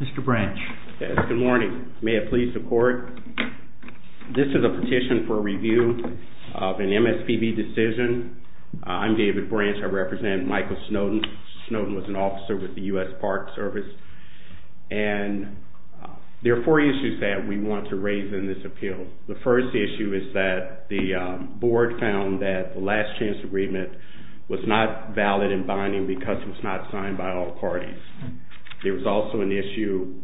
Mr. Branch. Yes, good morning. May it please the court. This is a petition for review of an MSPB decision. I'm David Branch. I represent Michael Snowden. Snowden was an officer with the U.S. Park Service and there are four issues that we want to raise in this appeal. The first issue is that the board found that the last chance agreement was not valid and binding because it was not signed by all parties. There was also an issue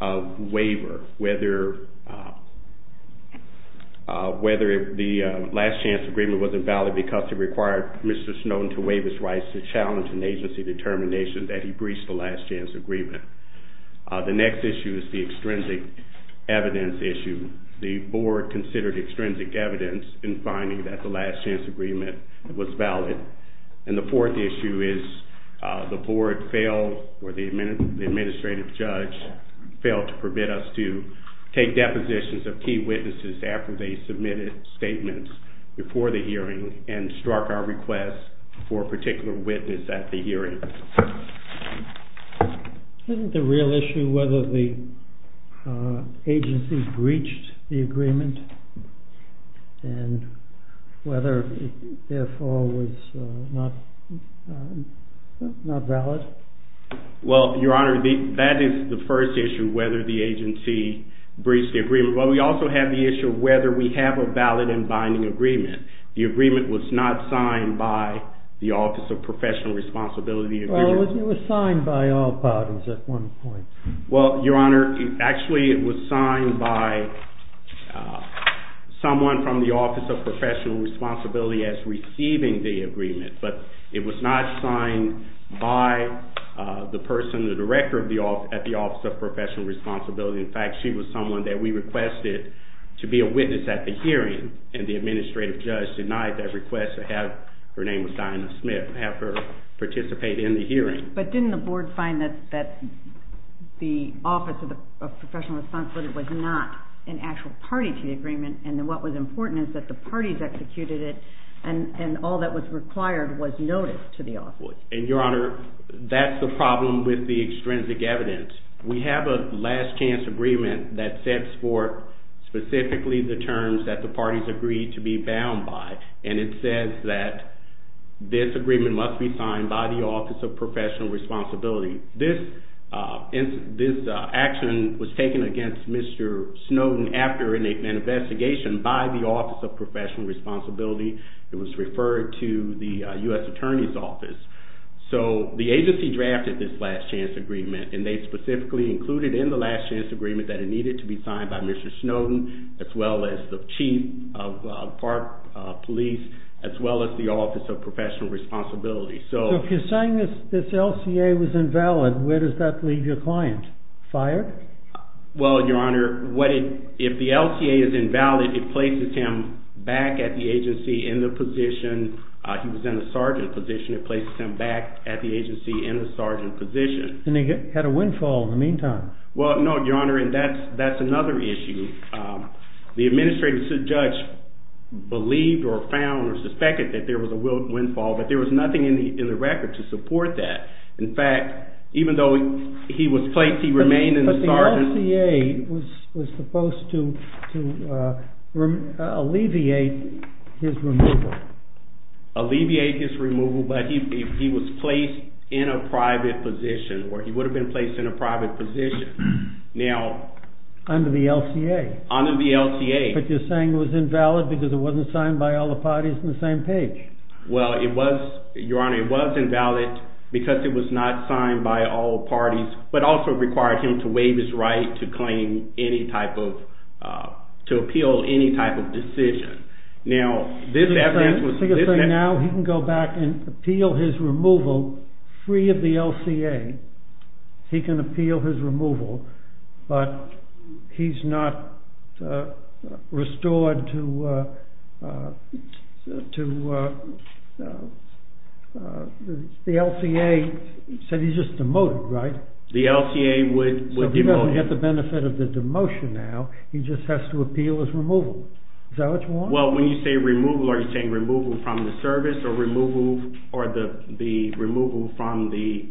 of waiver, whether the last chance agreement wasn't valid because it required Mr. Snowden to waive his rights to challenge an agency determination that he breached the last chance agreement. The next issue is the extrinsic evidence issue. The board considered extrinsic evidence in finding that the last chance agreement was valid. And the fourth issue is the board failed or the administrative judge failed to permit us to take depositions of key witnesses after they submitted statements before the hearing and struck our request for a particular witness at the hearing. Isn't the real issue whether the agency breached the agreement and whether it therefore was not valid? Well your honor, that is the first issue, whether the agency breached the agreement. But we also have the issue of whether we have a valid and binding agreement. The agreement was not signed by the Office of Professional Responsibility. Well it was signed by all parties at one point. Well your honor, actually it was signed by someone from the Office of Professional Responsibility as receiving the agreement. But it was not signed by the person, the director at the Office of Professional Responsibility. In fact, she was someone that we requested to be a witness at the hearing and the administrative judge denied that request to have, her name was Dinah Smith, have her participate in the hearing. But didn't the board find that the Office of Professional Responsibility was not an actual party to the agreement and what was important is that the parties executed it and all that was required was noticed to the office? And your honor, that's the problem with the extrinsic evidence. We have a last chance agreement that sets forth specifically the terms that the parties agreed to be bound by and it says that this agreement must be signed by the Office of Professional Responsibility. This action was taken against Mr. Snowden after an investigation by the Office of Professional Responsibility. It was referred to the U.S. Attorney's Office. So the agency drafted this last chance agreement and they specifically included in the last chance agreement that it needed to be signed by Mr. Snowden as well as the Chief of Park Police as well as the Office of Professional Responsibility. So if you're saying this LCA was invalid, where does that leave your client? Fired? Well, your honor, if the LCA is invalid, it places him back at the agency in the position, he was in the sergeant position, it places him back at the agency in the sergeant position. And he had a windfall in the meantime. Well, no, your honor, and that's another issue. The administrative judge believed or found or suspected that there was a windfall, but there was nothing in the record to support that. In fact, even though he was placed, he remained in the sergeant... But the LCA was supposed to alleviate his removal. Alleviate his removal, but he was placed in a private position, or he would have been placed in a private position. Now... Under the LCA. Under the LCA. But you're saying it was invalid because it wasn't signed by all the parties on the same page. Well, it was, your honor, it was invalid because it was not signed by all parties, but also required him to waive his right to claim any type of, to appeal any type of decision. Now, this evidence was... So you're saying now he can go back and appeal his removal free of the LCA. He can appeal his removal, but he's not restored to... The LCA said he's just demoted, right? The LCA would demote him. Well, when you say removal, are you saying removal from the service or removal from the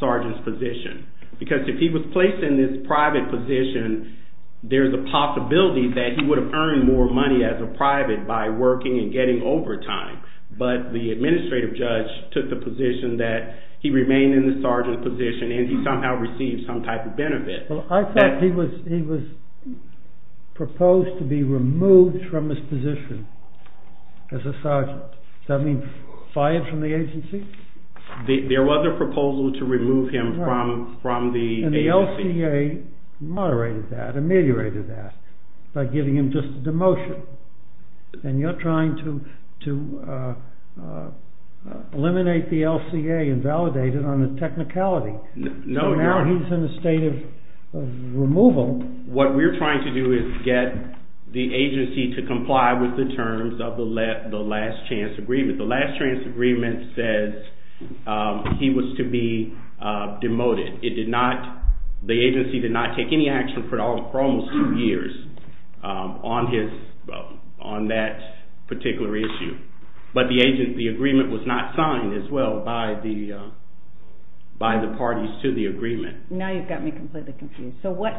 sergeant's position? Because if he was placed in this private position, there's a possibility that he would have earned more money as a private by working and getting overtime. But the administrative judge took the position that he remained in the sergeant's position and he somehow received some type of benefit. Well, I thought he was proposed to be removed from his position as a sergeant. Does that mean fired from the agency? There was a proposal to remove him from the agency. And the LCA moderated that, ameliorated that by giving him just a demotion. And you're trying to eliminate the LCA and validate it on a technicality. So now he's in a state of removal. What we're trying to do is get the agency to comply with the terms of the last chance agreement. The last chance agreement says he was to be demoted. The agency did not take any action for almost two years on that particular issue. But the agreement was not signed as well by the parties to the agreement. Now you've got me completely confused. So what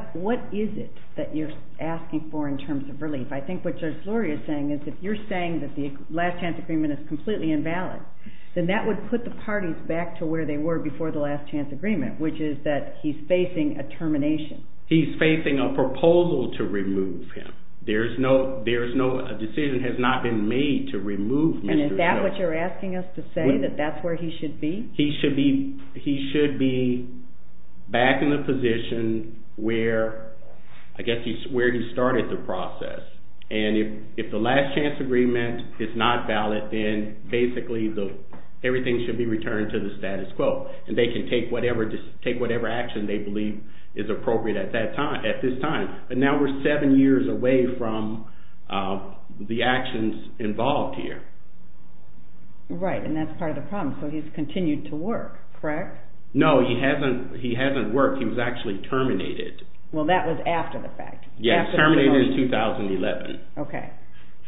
is it that you're asking for in terms of relief? I think what Judge Luria is saying is if you're saying that the last chance agreement is completely invalid, then that would put the parties back to where they were before the last chance agreement, which is that he's facing a termination. He's facing a proposal to remove him. A decision has not been made to remove Mr. Snow. And is that what you're asking us to say, that that's where he should be? He should be back in the position where he started the process. And if the last chance agreement is not valid, then basically everything should be returned to the status quo. And they can take whatever action they believe is appropriate at this time. But now we're seven years away from the actions involved here. Right, and that's part of the problem. So he's continued to work, correct? No, he hasn't worked. He was actually terminated. Well, that was after the fact. Yes, terminated in 2011. Okay.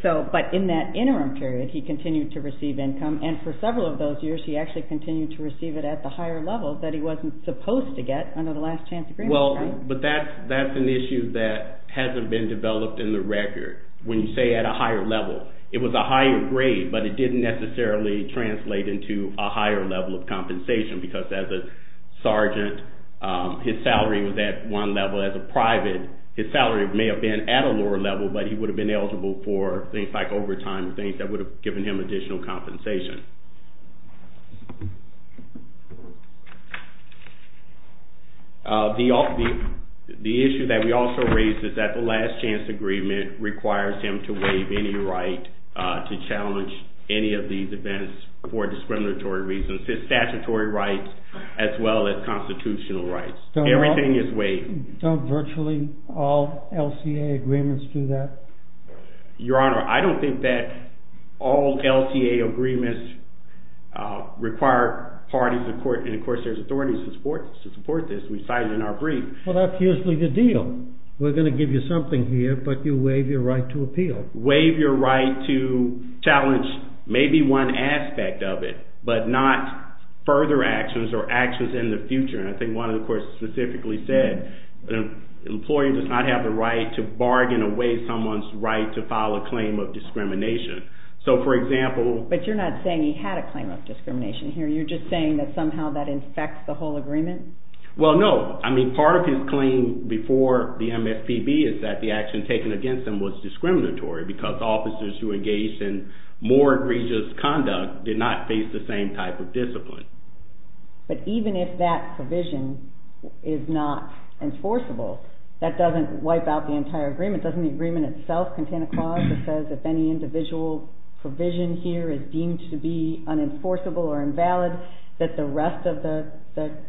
But in that interim period, he continued to receive income. And for several of those years, he actually continued to receive it at the higher level that he wasn't supposed to get under the last chance agreement. Well, but that's an issue that hasn't been developed in the record. When you say at a higher level, it was a higher grade, but it didn't necessarily translate into a higher level of compensation. Because as a sergeant, his salary was at one level. As a private, his salary may have been at a lower level, but he would have been eligible for things like overtime and things that would have given him additional compensation. The issue that we also raise is that the last chance agreement requires him to waive any right to challenge any of these events for discriminatory reasons. It's statutory rights as well as constitutional rights. Everything is waived. Don't virtually all LCA agreements do that? Your Honor, I don't think that all LCA agreements require parties in court. And of course, there's authorities to support this. We cite it in our brief. Well, that's usually the deal. We're going to give you something here, but you waive your right to appeal. Waive your right to challenge maybe one aspect of it, but not further actions or actions in the future. And I think one of the courts specifically said an employee does not have the right to bargain away someone's right to file a claim of discrimination. So, for example… But you're not saying he had a claim of discrimination here. You're just saying that somehow that infects the whole agreement? Well, no. I mean, part of his claim before the MFPB is that the action taken against him was discriminatory because officers who engaged in more egregious conduct did not face the same type of discipline. But even if that provision is not enforceable, that doesn't wipe out the entire agreement. Doesn't the agreement itself contain a clause that says if any individual provision here is deemed to be unenforceable or invalid, that the rest of the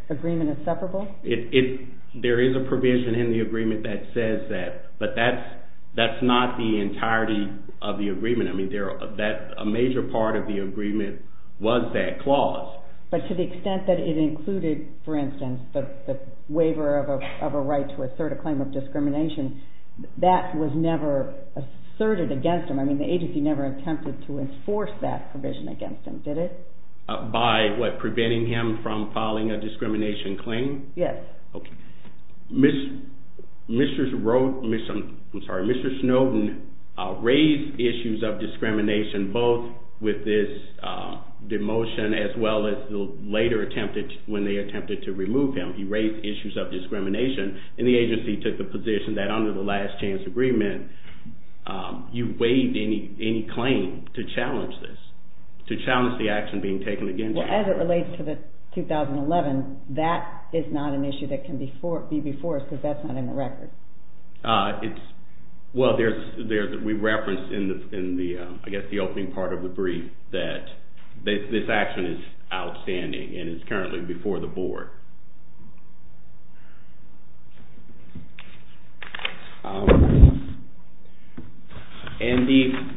agreement is separable? There is a provision in the agreement that says that, but that's not the entirety of the agreement. I mean, a major part of the agreement was that clause. But to the extent that it included, for instance, the waiver of a right to assert a claim of discrimination, that was never asserted against him. I mean, the agency never attempted to enforce that provision against him, did it? By what? Preventing him from filing a discrimination claim? Yes. Okay. Mr. Snowden raised issues of discrimination both with this demotion as well as later when they attempted to remove him. He raised issues of discrimination, and the agency took the position that under the last chance agreement, you waived any claim to challenge this, to challenge the action being taken against you. Well, as it relates to the 2011, that is not an issue that can be before us because that's not in the record. Well, we referenced in the, I guess, the opening part of the brief that this action is outstanding and is currently before the board. And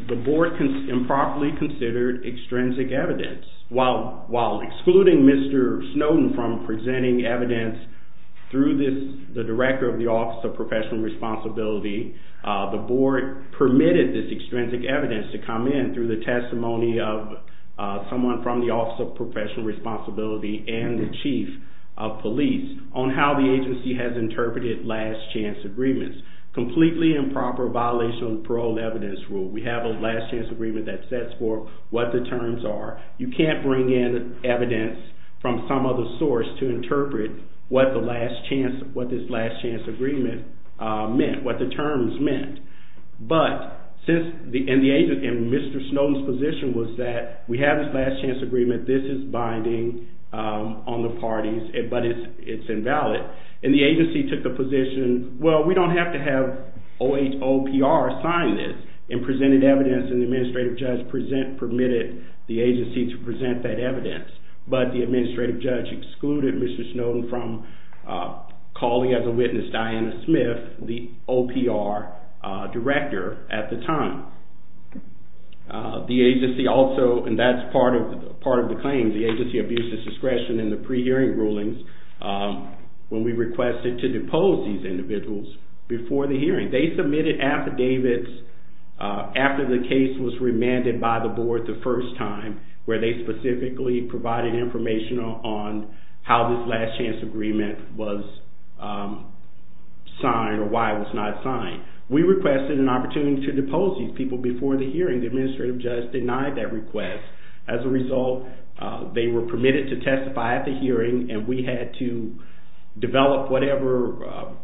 the board improperly considered extrinsic evidence. While excluding Mr. Snowden from presenting evidence through the director of the Office of Professional Responsibility, the board permitted this extrinsic evidence to come in through the testimony of someone from the Office of Professional Responsibility and the chief of police on how the agency has interpreted last chance agreements. Completely improper violation of the parole evidence rule. We have a last chance agreement that sets forth what the terms are. You can't bring in evidence from some other source to interpret what this last chance agreement meant, what the terms meant. And Mr. Snowden's position was that we have this last chance agreement. This is binding on the parties, but it's invalid. And the agency took the position, well, we don't have to have OHOPR sign this and presented evidence and the administrative judge permitted the agency to present that evidence. But the administrative judge excluded Mr. Snowden from calling as a witness Diana Smith, the OPR director at the time. The agency also, and that's part of the claims, the agency abused its discretion in the pre-hearing rulings when we requested to depose these individuals before the hearing. They submitted affidavits after the case was remanded by the board the first time where they specifically provided information on how this last chance agreement was signed or why it was not signed. We requested an opportunity to depose these people before the hearing. The administrative judge denied that request. As a result, they were permitted to testify at the hearing and we had to develop whatever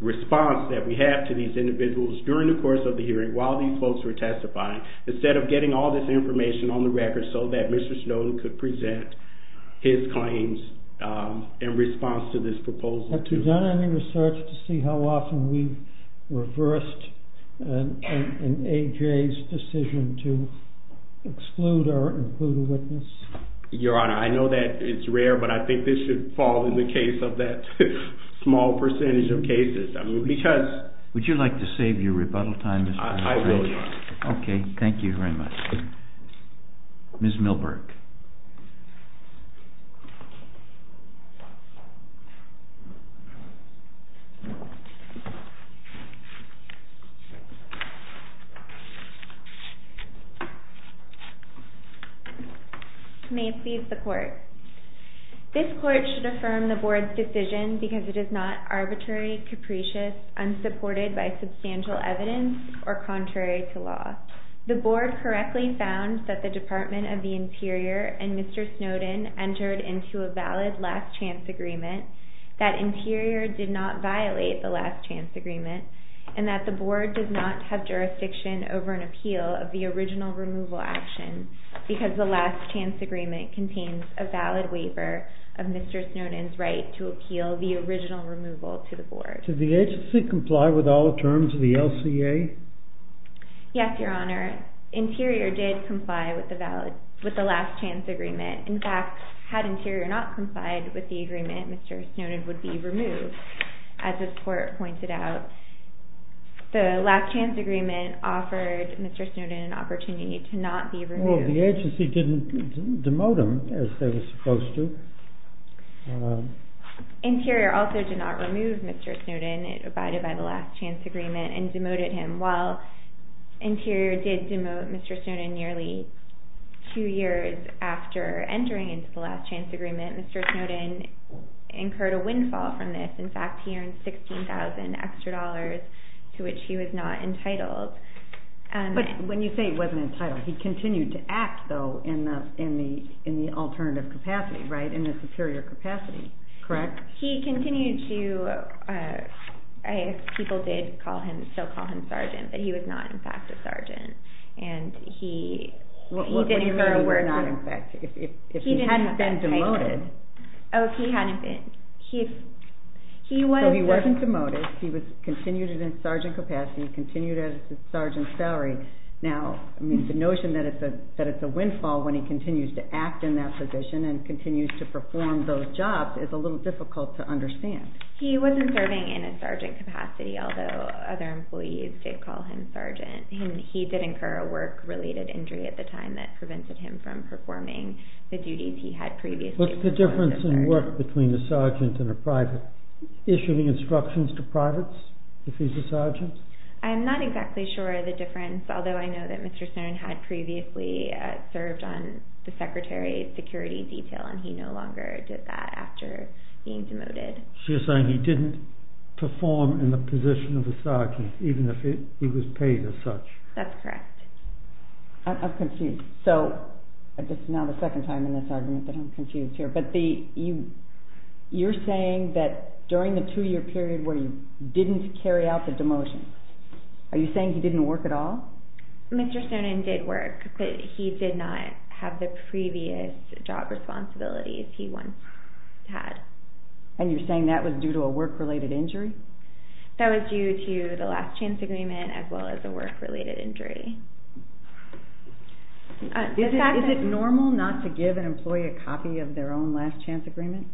response that we had to these individuals during the course of the hearing while these folks were testifying instead of getting all this information on the record so that Mr. Snowden could present his claims in response to this proposal. Have you done any research to see how often we've reversed an AJ's decision to exclude or include a witness? Your Honor, I know that it's rare, but I think this should fall in the case of that small percentage of cases. Would you like to save your rebuttal time, Mr. Snowden? I will, Your Honor. Okay, thank you very much. Ms. Milberg. May it please the court. This court should affirm the board's decision because it is not arbitrary, capricious, unsupported by substantial evidence, or contrary to law. The board correctly found that the Department of the Interior and Mr. Snowden entered into a valid last chance agreement, that Interior did not violate the last chance agreement, and that the board does not have jurisdiction over an appeal of the original removal action because the last chance agreement contains a valid waiver of Mr. Snowden's right to appeal the original removal to the board. Did the agency comply with all the terms of the LCA? Yes, Your Honor. Interior did comply with the last chance agreement. In fact, had Interior not complied with the agreement, Mr. Snowden would be removed. As this court pointed out, the last chance agreement offered Mr. Snowden an opportunity to not be removed. So the agency didn't demote him as they were supposed to. Interior also did not remove Mr. Snowden. It abided by the last chance agreement and demoted him. While Interior did demote Mr. Snowden nearly two years after entering into the last chance agreement, Mr. Snowden incurred a windfall from this. In fact, he earned $16,000 extra dollars to which he was not entitled. But when you say he wasn't entitled, he continued to act, though, in the alternative capacity, right? In the superior capacity, correct? He continued to... People did still call him sergeant, but he was not, in fact, a sergeant. What do you mean he was not, in fact? If he hadn't been demoted... Oh, if he hadn't been... So he wasn't demoted, he continued in his sergeant capacity, continued as a sergeant salary. Now, the notion that it's a windfall when he continues to act in that position and continues to perform those jobs is a little difficult to understand. He wasn't serving in a sergeant capacity, although other employees did call him sergeant. He did incur a work-related injury at the time that prevented him from performing the duties he had previously... What's the difference in work between a sergeant and a private? Issuing instructions to privates, if he's a sergeant? I'm not exactly sure of the difference, although I know that Mr. Snowden had previously served on the secretary's security detail, and he no longer did that after being demoted. So you're saying he didn't perform in the position of a sergeant, even if he was paid as such. That's correct. I'm confused. So, this is now the second time in this argument that I'm confused here, but you're saying that during the two-year period where you didn't carry out the demotion, are you saying he didn't work at all? Mr. Snowden did work, but he did not have the previous job responsibilities he once had. And you're saying that was due to a work-related injury? That was due to the last-chance agreement, as well as a work-related injury. Is it normal not to give an employee a copy of their own last-chance agreement?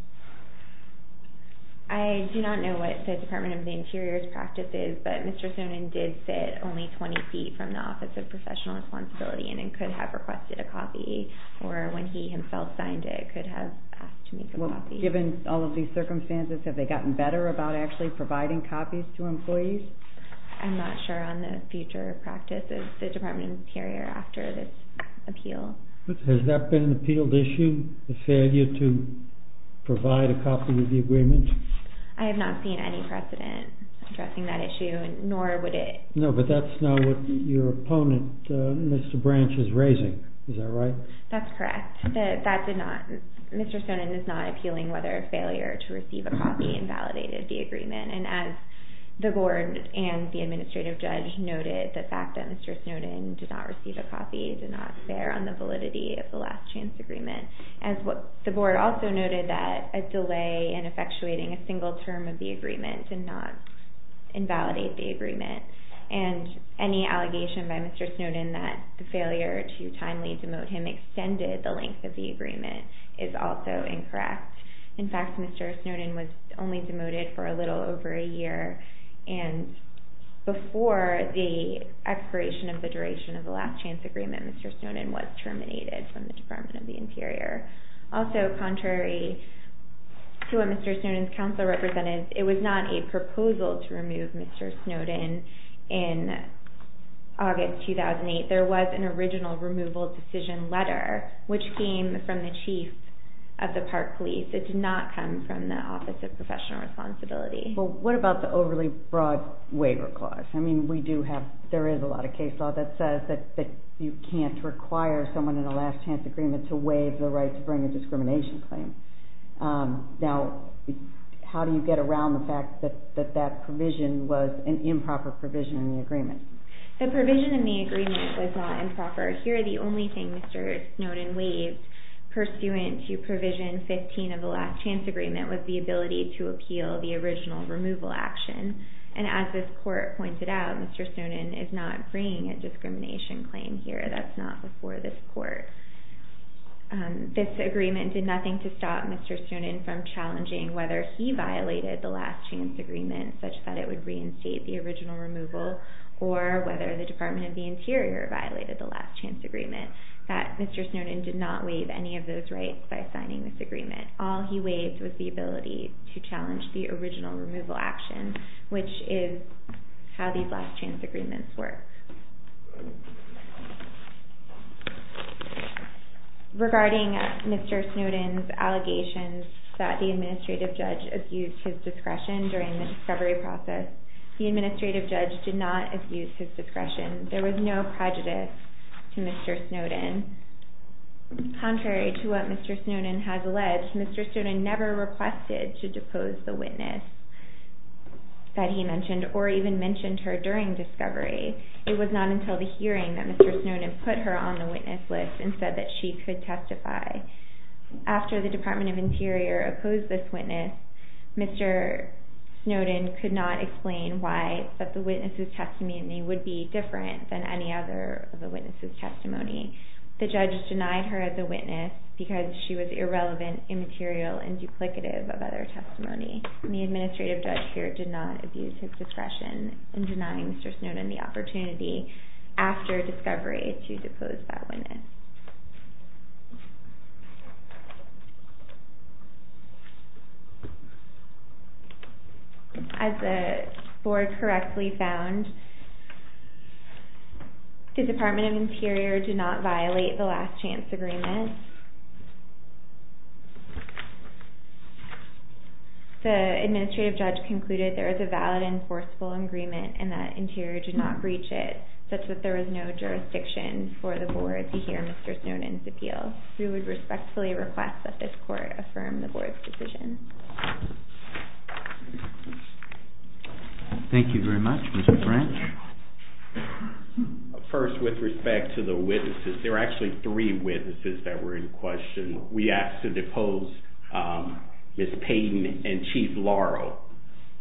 I do not know what the Department of the Interior's practice is, but Mr. Snowden did sit only 20 feet from the Office of Professional Responsibility and could have requested a copy, or when he himself signed it, could have asked to make a copy. Given all of these circumstances, have they gotten better about actually providing copies to employees? I'm not sure on the future practice of the Department of the Interior after this appeal. Has that been an appealed issue, the failure to provide a copy of the agreement? I have not seen any precedent addressing that issue, nor would it... No, but that's not what your opponent, Mr. Branch, is raising. Is that right? That's correct. Mr. Snowden is not appealing whether a failure to receive a copy invalidated the agreement. And as the Board and the Administrative Judge noted, the fact that Mr. Snowden did not receive a copy did not bear on the validity of the last-chance agreement. The Board also noted that a delay in effectuating a single term of the agreement did not invalidate the agreement. And any allegation by Mr. Snowden that the failure to timely demote him extended the length of the agreement is also incorrect. In fact, Mr. Snowden was only demoted for a little over a year, and before the expiration of the duration of the last-chance agreement, Mr. Snowden was terminated from the Department of the Interior. Also, contrary to what Mr. Snowden's counsel represented, it was not a proposal to remove Mr. Snowden in August 2008. There was an original removal decision letter, which came from the Chief of the Park Police. It did not come from the Office of Professional Responsibility. Well, what about the overly broad waiver clause? I mean, there is a lot of case law that says that you can't require someone in a last-chance agreement to waive the right to bring a discrimination claim. Now, how do you get around the fact that that provision was an improper provision in the agreement? The provision in the agreement was not improper. Here, the only thing Mr. Snowden waived pursuant to Provision 15 of the last-chance agreement was the ability to appeal the original removal action. And as this court pointed out, Mr. Snowden is not bringing a discrimination claim here. That's not before this court. This agreement did nothing to stop Mr. Snowden from challenging whether he violated the last-chance agreement, such that it would reinstate the original removal, or whether the Department of the Interior violated the last-chance agreement. Mr. Snowden did not waive any of those rights by signing this agreement. All he waived was the ability to challenge the original removal action, which is how these last-chance agreements work. Regarding Mr. Snowden's allegations that the administrative judge abused his discretion during the discovery process, the administrative judge did not abuse his discretion. There was no prejudice to Mr. Snowden. Contrary to what Mr. Snowden has alleged, Mr. Snowden never requested to depose the witness that he mentioned, or even mentioned her during discovery. It was not until the hearing that Mr. Snowden put her on the witness list and said that she could testify. After the Department of the Interior opposed this witness, Mr. Snowden could not explain why the witness's testimony would be different than any other of the witness's testimony. The judge denied her as a witness because she was irrelevant, immaterial, and duplicative of other testimony. The administrative judge here did not abuse his discretion in denying Mr. Snowden the opportunity after discovery to depose that witness. As the board correctly found, the Department of the Interior did not violate the last-chance agreement. The administrative judge concluded there is a valid enforceable agreement and that Interior did not breach it, such that there was no jurisdiction for the board to hear Mr. Snowden's appeal. We would respectfully request that this court affirm the board's decision. Thank you very much. Mr. Branch? First, with respect to the witnesses, there were actually three witnesses that were in question. We asked to depose Ms. Payton and Chief Laurel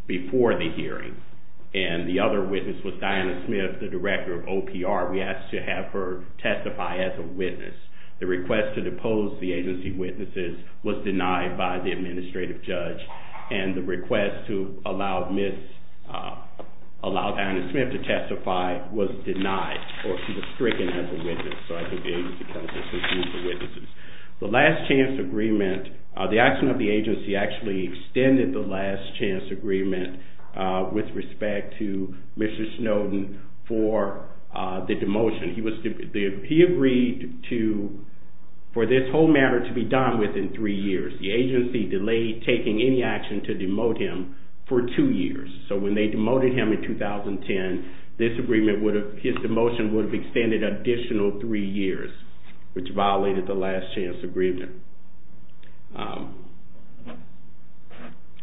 before the hearing, and the other witness was Diana Smith, the director of OPR. The request to depose the agency witnesses was denied by the administrative judge, and the request to allow Diana Smith to testify was denied, or she was stricken as a witness. The action of the agency actually extended the last-chance agreement with respect to Mr. Snowden for the demotion. He agreed for this whole matter to be done within three years. The agency delayed taking any action to demote him for two years. So when they demoted him in 2010, his demotion would have extended an additional three years, which violated the last-chance agreement.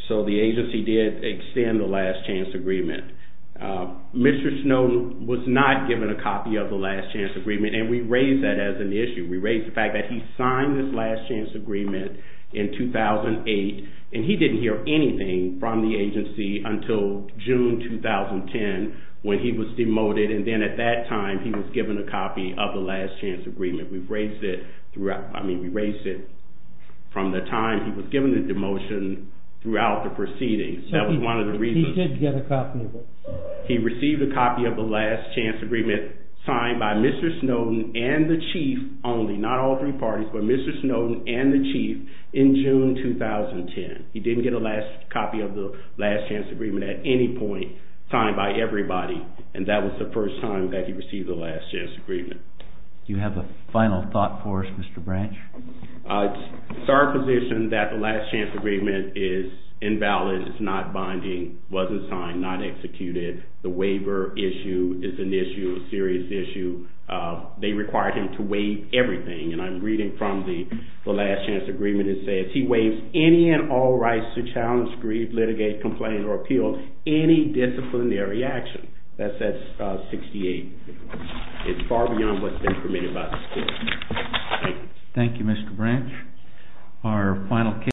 So the agency did extend the last-chance agreement. Mr. Snowden was not given a copy of the last-chance agreement, and we raised that as an issue. We raised the fact that he signed this last-chance agreement in 2008, and he didn't hear anything from the agency until June 2010, when he was demoted. And then at that time, he was given a copy of the last-chance agreement. We raised it from the time he was given the demotion throughout the proceedings. That was one of the reasons. He did get a copy of it. He received a copy of the last-chance agreement signed by Mr. Snowden and the chief only, not all three parties, but Mr. Snowden and the chief in June 2010. He didn't get a copy of the last-chance agreement at any point signed by everybody, and that was the first time that he received a last-chance agreement. Do you have a final thought for us, Mr. Branch? It's our position that the last-chance agreement is invalid. It's not binding. It wasn't signed, not executed. The waiver issue is an issue, a serious issue. They required him to waive everything, and I'm reading from the last-chance agreement. It says he waives any and all rights to challenge, grieve, litigate, complain, or appeal any disciplinary action. That says 68. It's far beyond what's been permitted by the statute. Thank you, Mr. Branch.